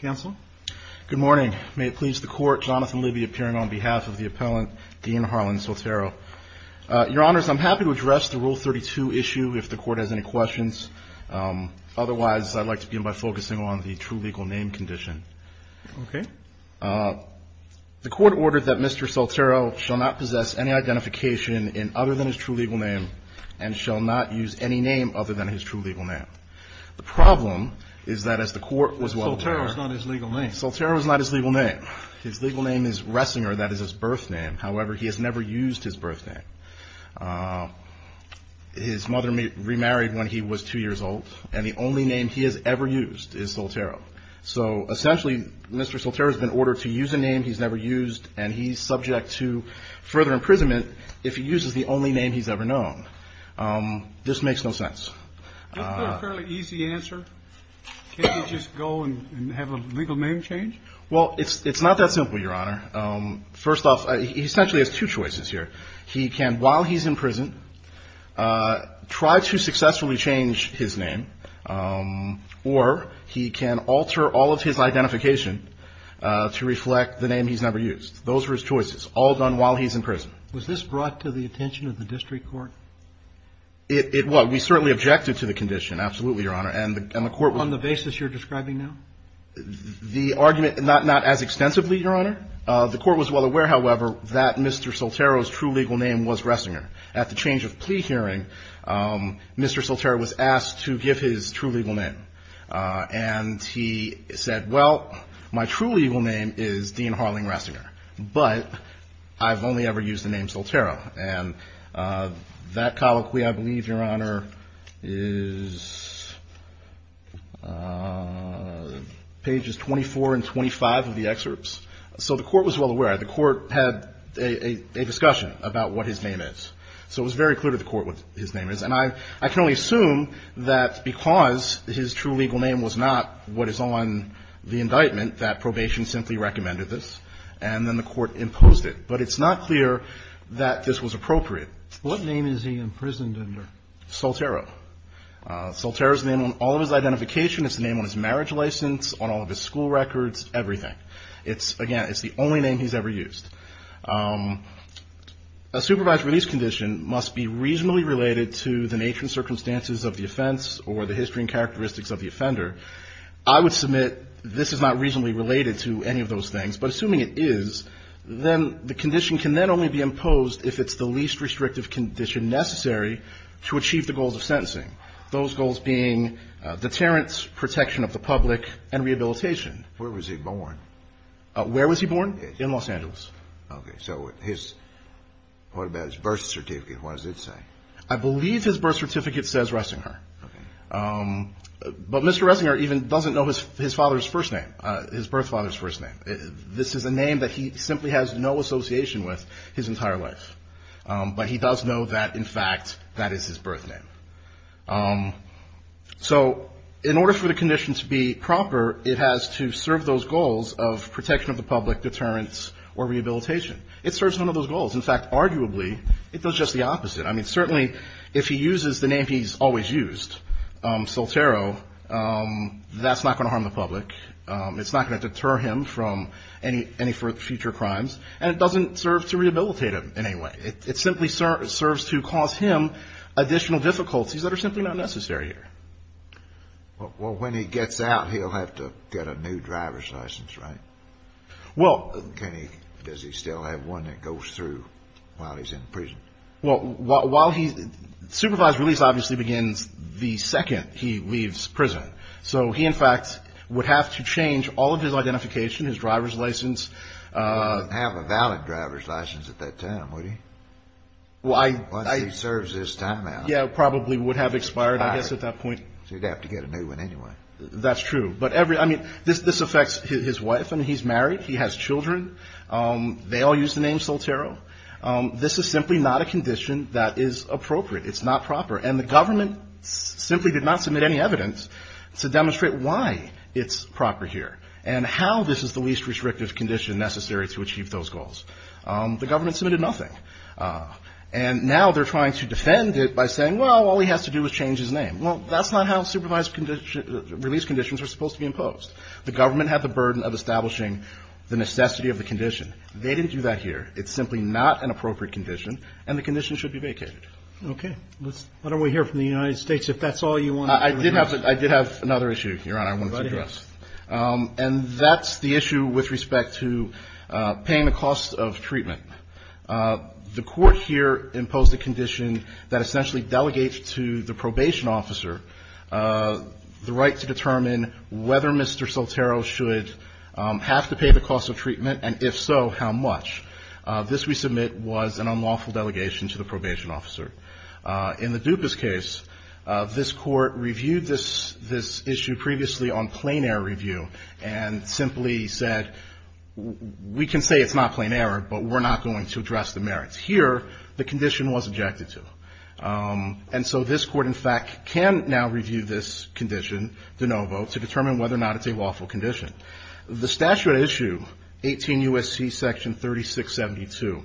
Good morning. May it please the court, Jonathan Libby appearing on behalf of the appellant, Dean Harlan Soltero. Your honors, I'm happy to address the Rule 32 issue if the court has any questions. Otherwise, I'd like to begin by focusing on the true legal name condition. Okay. The court ordered that Mr. Soltero shall not possess any identification other than his true legal name and shall not use any name other than his true legal name. The problem is that as the court was well aware Soltero is not his legal name. Soltero is not his legal name. His legal name is Ressinger. That is his birth name. However, he has never used his birth name. His mother remarried when he was two years old, and the only name he has ever used is Soltero. So essentially, Mr. Soltero has been ordered to use a name he's never used, and he's subject to further imprisonment if he uses the only name he's ever known. This makes no sense. Isn't that a fairly easy answer? Can't you just go and have a legal name change? Well, it's not that simple, Your Honor. First off, he essentially has two choices here. He can, while he's in prison, try to successfully change his name, or he can alter all of his identification to reflect the name he's never used. Those are his choices, all done while he's in prison. Was this brought to the attention of the district court? It was. We certainly objected to the condition, absolutely, Your Honor. On the basis you're describing now? The argument, not as extensively, Your Honor. The court was well aware, however, that Mr. Soltero's true legal name was Ressinger. At the change of plea hearing, Mr. Soltero was asked to give his true legal name, and he said, well, my true legal name is Dean Harling Ressinger, but I've only ever used the name Soltero. And that colloquy, I believe, Your Honor, is pages 24 and 25 of the excerpts. So the court was well aware. The court had a discussion about what his name is. So it was very clear to the court what his name is. And I can only assume that because his true legal name was not what is on the indictment, that probation simply recommended this, and then the court imposed it. But it's not clear that this was appropriate. What name is he imprisoned under? Soltero. Soltero's name on all of his identification. It's the name on his marriage license, on all of his school records, everything. It's, again, it's the only name he's ever used. A supervised release condition must be reasonably related to the nature and circumstances of the offense or the history and characteristics of the offender. I would submit this is not reasonably related to any of those things. But assuming it is, then the condition can then only be imposed if it's the least restrictive condition necessary to achieve the goals of sentencing, those goals being deterrence, protection of the public, and rehabilitation. Where was he born? Where was he born? In Los Angeles. Okay. So his, what about his birth certificate? What does it say? I believe his birth certificate says Ressinger. Okay. But Mr. Ressinger even doesn't know his father's first name, his birth father's first name. This is a name that he simply has no association with his entire life. But he does know that, in fact, that is his birth name. So in order for the condition to be proper, it has to serve those goals of protection of the public, deterrence, or rehabilitation. It serves none of those goals. In fact, arguably, it does just the opposite. I mean, certainly if he uses the name he's always used, Soltero, that's not going to harm the public. It's not going to deter him from any future crimes. And it doesn't serve to rehabilitate him in any way. It simply serves to cause him additional difficulties that are simply not necessary here. Well, when he gets out, he'll have to get a new driver's license, right? Well. Can he, does he still have one that goes through while he's in prison? Well, while he, supervised release obviously begins the second he leaves prison. So he, in fact, would have to change all of his identification, his driver's license. He wouldn't have a valid driver's license at that time, would he? Well, I. Once he serves his time out. Yeah, probably would have expired, I guess, at that point. So he'd have to get a new one anyway. That's true. But every, I mean, this affects his wife. I mean, he's married. He has children. They all use the name Soltero. This is simply not a condition that is appropriate. It's not proper. And the government simply did not submit any evidence to demonstrate why it's proper here and how this is the least restrictive condition necessary to achieve those goals. The government submitted nothing. And now they're trying to defend it by saying, well, all he has to do is change his name. Well, that's not how supervised release conditions are supposed to be imposed. The government had the burden of establishing the necessity of the condition. They didn't do that here. It's simply not an appropriate condition, and the condition should be vacated. Okay. Let's, why don't we hear from the United States, if that's all you want to address. I did have another issue, Your Honor, I wanted to address. Go ahead. And that's the issue with respect to paying the cost of treatment. The Court here imposed a condition that essentially delegates to the probation officer the right to determine whether Mr. Soltero should have to pay the cost of treatment, and if so, how much. This, we submit, was an unlawful delegation to the probation officer. In the Dupas case, this Court reviewed this issue previously on plain error review and simply said, we can say it's not plain error, but we're not going to address the merits. Here, the condition was objected to. And so this Court, in fact, can now review this condition de novo to determine whether or not it's a lawful condition. The statute at issue, 18 U.S.C. section 3672,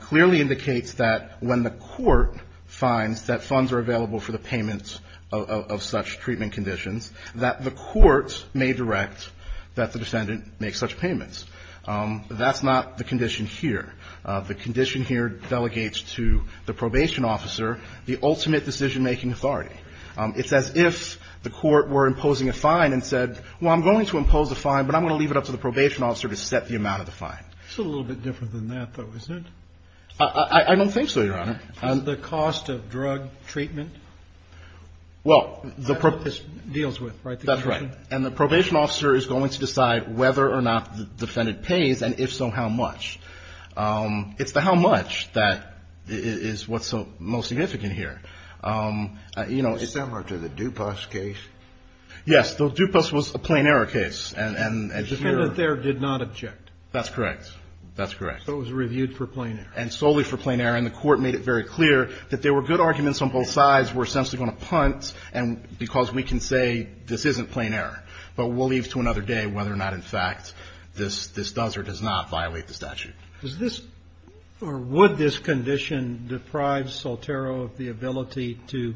clearly indicates that when the court finds that funds are available for the payment of such treatment conditions, that the court may direct that the defendant make such payments. That's not the condition here. The condition here delegates to the probation officer the ultimate decision-making authority. It's as if the court were imposing a fine and said, well, I'm going to impose a fine, but I'm going to leave it up to the probation officer to set the amount of the fine. It's a little bit different than that, though, isn't it? I don't think so, Your Honor. The cost of drug treatment? Well, the pro- Deals with, right? That's right. And the probation officer is going to decide whether or not the defendant pays, and if so, how much. It's the how much that is what's most significant here. It's similar to the Dupas case. Yes. The Dupas was a plain error case. And here- The defendant there did not object. That's correct. That's correct. So it was reviewed for plain error. And solely for plain error. And the court made it very clear that there were good arguments on both sides. We're essentially going to punt because we can say this isn't plain error. But we'll leave it to another day whether or not, in fact, this does or does not violate the statute. Does this or would this condition deprive Soltero of the ability to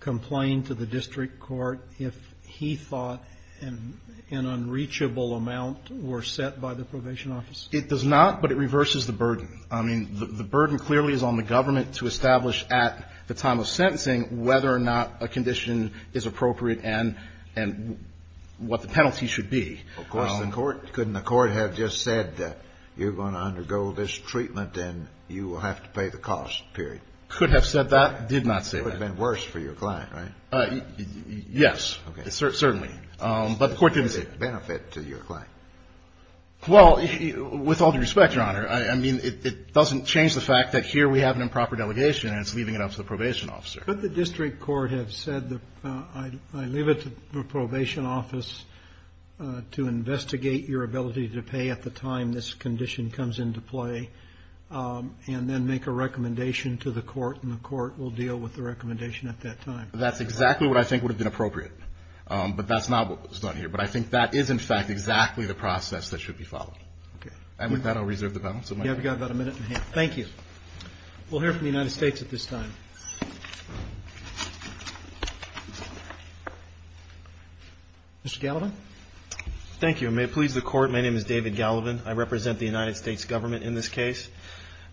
complain to the district court if he thought an unreachable amount were set by the probation officer? It does not, but it reverses the burden. I mean, the burden clearly is on the government to establish at the time of sentencing whether or not a condition is appropriate and what the penalty should be. Of course, the court, couldn't the court have just said that you're going to undergo this treatment and you will have to pay the cost, period? Could have said that, did not say that. It would have been worse for your client, right? Yes. Certainly. But the court didn't say- Did it benefit to your client? Well, with all due respect, Your Honor, I mean, it doesn't change the fact that here we have an improper delegation and it's leaving it up to the probation officer. Could the district court have said that I leave it to the probation office to investigate your ability to pay at the time this condition comes into play and then make a recommendation to the court and the court will deal with the recommendation at that time? That's exactly what I think would have been appropriate. But that's not what was done here. But I think that is, in fact, exactly the process that should be followed. Okay. And with that, I'll reserve the balance of my time. You have about a minute and a half. Thank you. We'll hear from the United States at this time. Mr. Gallivan? Thank you. And may it please the Court, my name is David Gallivan. I represent the United States government in this case.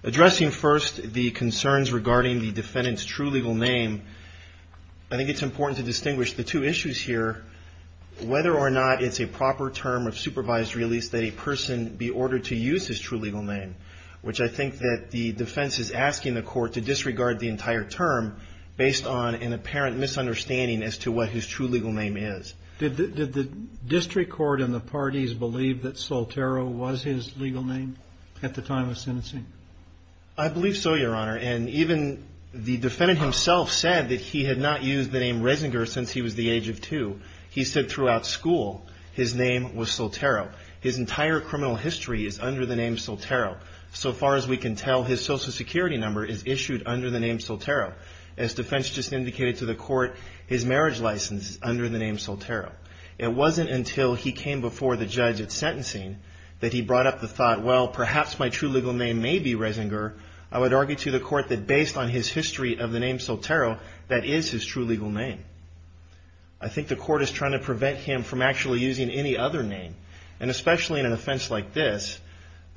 Addressing first the concerns regarding the defendant's true legal name, I think it's important to distinguish the two issues here, whether or not it's a proper term of supervised release that a person be ordered to use his true legal name, which I think that the defense is asking the court to disregard the entire term based on an apparent misunderstanding as to what his true legal name is. Did the district court and the parties believe that Soltero was his legal name at the time of sentencing? I believe so, Your Honor. And even the defendant himself said that he had not used the name Resinger since he was the age of two. He said throughout school his name was Soltero. His entire criminal history is under the name Soltero. So far as we can tell, his Social Security number is issued under the name Soltero. As defense just indicated to the court, his marriage license is under the name Soltero. It wasn't until he came before the judge at sentencing that he brought up the thought, well, perhaps my true legal name may be Resinger. I would argue to the court that based on his history of the name Soltero, that is his true legal name. I think the court is trying to prevent him from actually using any other name. And especially in an offense like this,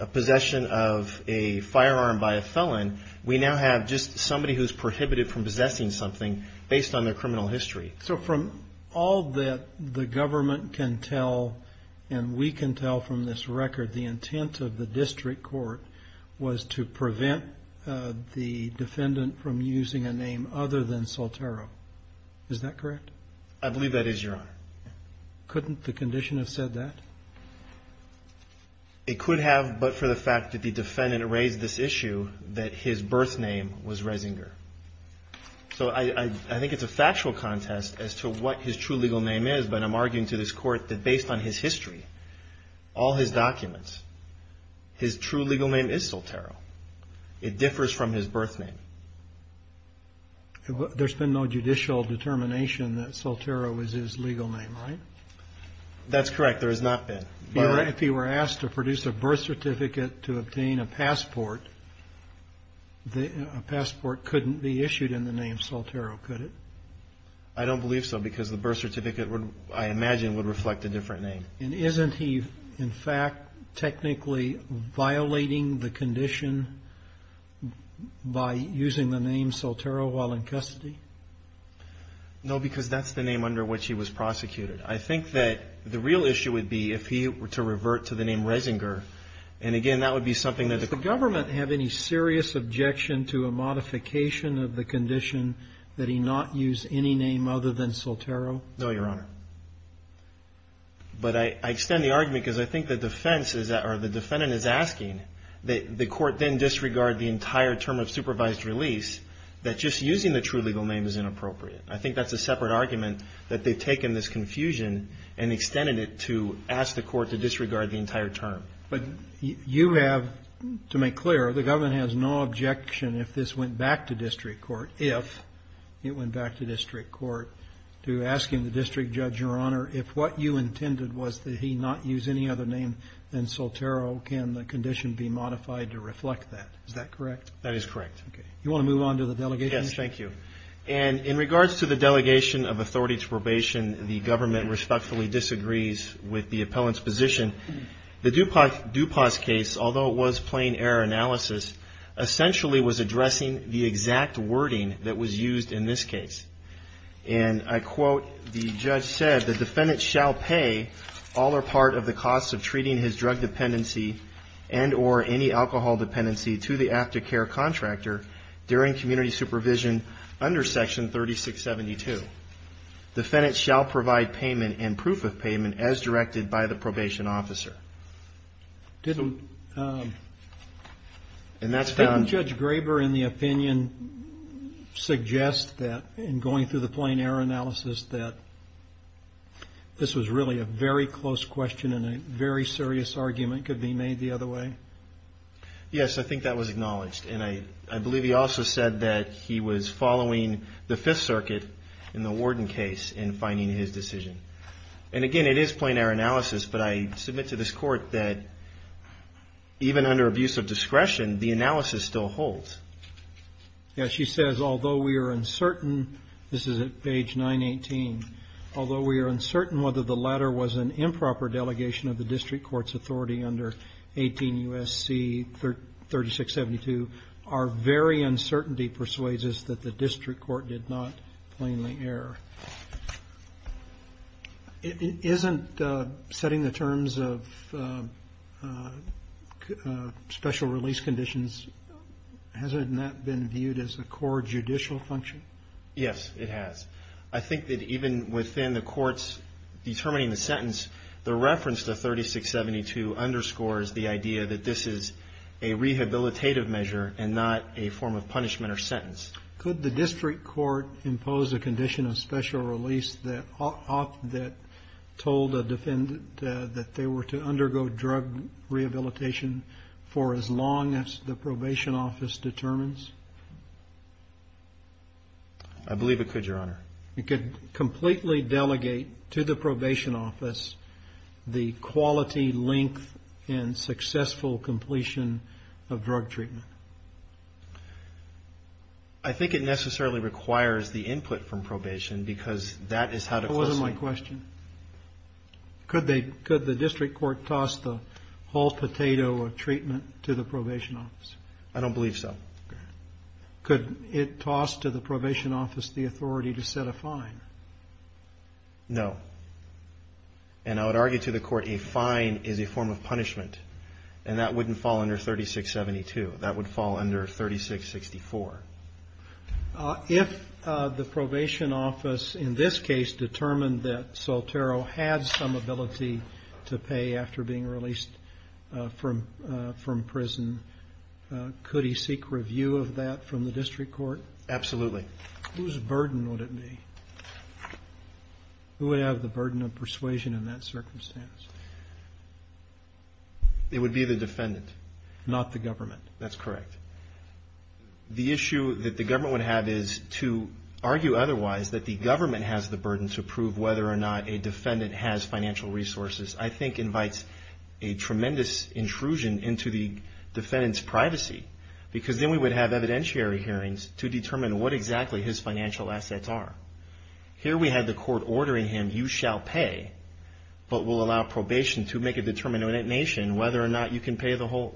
a possession of a firearm by a felon, we now have just somebody who's prohibited from possessing something based on their criminal history. So from all that the government can tell and we can tell from this record, the intent of the district court was to prevent the defendant from using a name other than Soltero. Is that correct? I believe that is, Your Honor. Couldn't the condition have said that? It could have, but for the fact that the defendant raised this issue that his birth name was Resinger. So I think it's a factual contest as to what his true legal name is, but I'm arguing to this court that based on his history, all his documents, his true legal name is Soltero. It differs from his birth name. There's been no judicial determination that Soltero is his legal name, right? That's correct. There has not been. If he were asked to produce a birth certificate to obtain a passport, a passport couldn't be issued in the name Soltero, could it? I don't believe so because the birth certificate, I imagine, would reflect a different name. And isn't he, in fact, technically violating the condition by using the name Soltero while in custody? No, because that's the name under which he was prosecuted. I think that the real issue would be if he were to revert to the name Resinger. And, again, that would be something that the court… Does the government have any serious objection to a modification of the condition that he not use any name other than Soltero? No, Your Honor. But I extend the argument because I think the defense is that, or the defendant is asking, that the court then disregard the entire term of supervised release, that just using the true legal name is inappropriate. I think that's a separate argument that they've taken this confusion and extended it to ask the court to disregard the entire term. But you have, to make clear, the government has no objection if this went back to district court, if it went back to district court, to ask the district judge, Your Honor, if what you intended was that he not use any other name than Soltero, can the condition be modified to reflect that? Is that correct? That is correct. You want to move on to the delegation? Yes, thank you. And in regards to the delegation of authority to probation, the government respectfully disagrees with the appellant's position. The DuPont case, although it was plain error analysis, essentially was addressing the exact wording that was used in this case. And I quote, the judge said, the defendant shall pay all or part of the costs of treating his drug dependency and or any alcohol dependency to the aftercare contractor during community supervision under section 3672. The defendant shall provide payment and proof of payment as directed by the probation officer. Didn't Judge Graber, in the opinion, suggest that in going through the plain error analysis that this was really a very close question and a very serious argument could be made the other way? Yes, I think that was acknowledged. And I believe he also said that he was following the Fifth Circuit in the Warden case in finding his decision. And again, it is plain error analysis, but I submit to this Court that even under abuse of discretion, the analysis still holds. Yes, she says, although we are uncertain, this is at page 918, although we are uncertain whether the latter was an improper delegation of the district court's authority under 18 U.S.C. 3672, our very uncertainty persuades us that the district court did not plainly err. Isn't setting the terms of special release conditions, hasn't that been viewed as a core judicial function? Yes, it has. I think that even within the court's determining the sentence, the reference to 3672 underscores the idea that this is a rehabilitative measure and not a form of punishment or sentence. Could the district court impose a condition of special release that told a defendant that they were to undergo drug rehabilitation for as long as the probation office determines? I believe it could, Your Honor. It could completely delegate to the probation office the quality, length, and successful completion of drug treatment. I think it necessarily requires the input from probation because that is how to close a case. That wasn't my question. Could the district court toss the whole potato of treatment to the probation office? I don't believe so. Could it toss to the probation office the authority to set a fine? No. And I would argue to the court a fine is a form of punishment, and that wouldn't fall under 3672. That would fall under 3664. If the probation office in this case determined that Saltero had some ability to pay after being released from prison, could he seek review of that from the district court? Absolutely. Whose burden would it be? Who would have the burden of persuasion in that circumstance? It would be the defendant. Not the government. That's correct. The issue that the government would have is to argue otherwise, that the government has the burden to prove whether or not a defendant has financial resources, I think invites a tremendous intrusion into the defendant's privacy because then we would have evidentiary hearings to determine what exactly his financial assets are. Here we had the court ordering him, you shall pay but will allow probation to make a determination whether or not you can pay the whole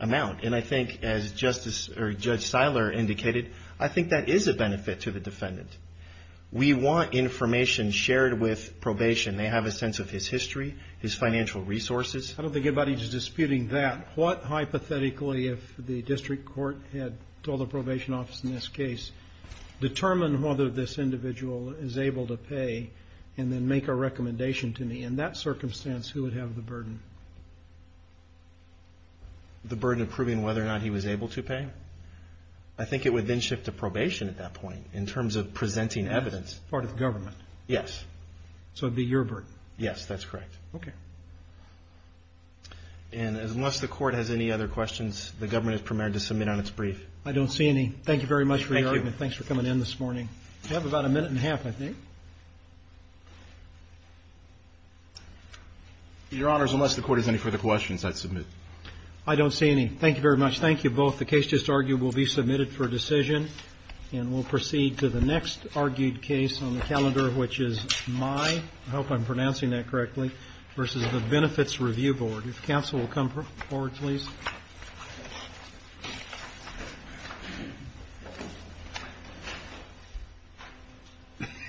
amount. And I think, as Judge Seiler indicated, I think that is a benefit to the defendant. We want information shared with probation. They have a sense of his history, his financial resources. I don't think anybody's disputing that. What, hypothetically, if the district court had told the probation office in this case, determine whether this individual is able to pay and then make a recommendation to me? In that circumstance, who would have the burden? The burden of proving whether or not he was able to pay? I think it would then shift to probation at that point in terms of presenting evidence. Part of the government. Yes. So it would be your burden. Yes, that's correct. Okay. And unless the court has any other questions, the government is permitted to submit on its brief. I don't see any. Thank you very much for your argument. Thank you. Thanks for coming in this morning. You have about a minute and a half, I think. Your Honors, unless the court has any further questions, I'd submit. I don't see any. Thank you very much. Thank you both. The case just argued will be submitted for decision, and we'll proceed to the next argued case on the calendar, which is my, I hope I'm pronouncing that correctly, versus the Benefits Review Board. If counsel will come forward, please.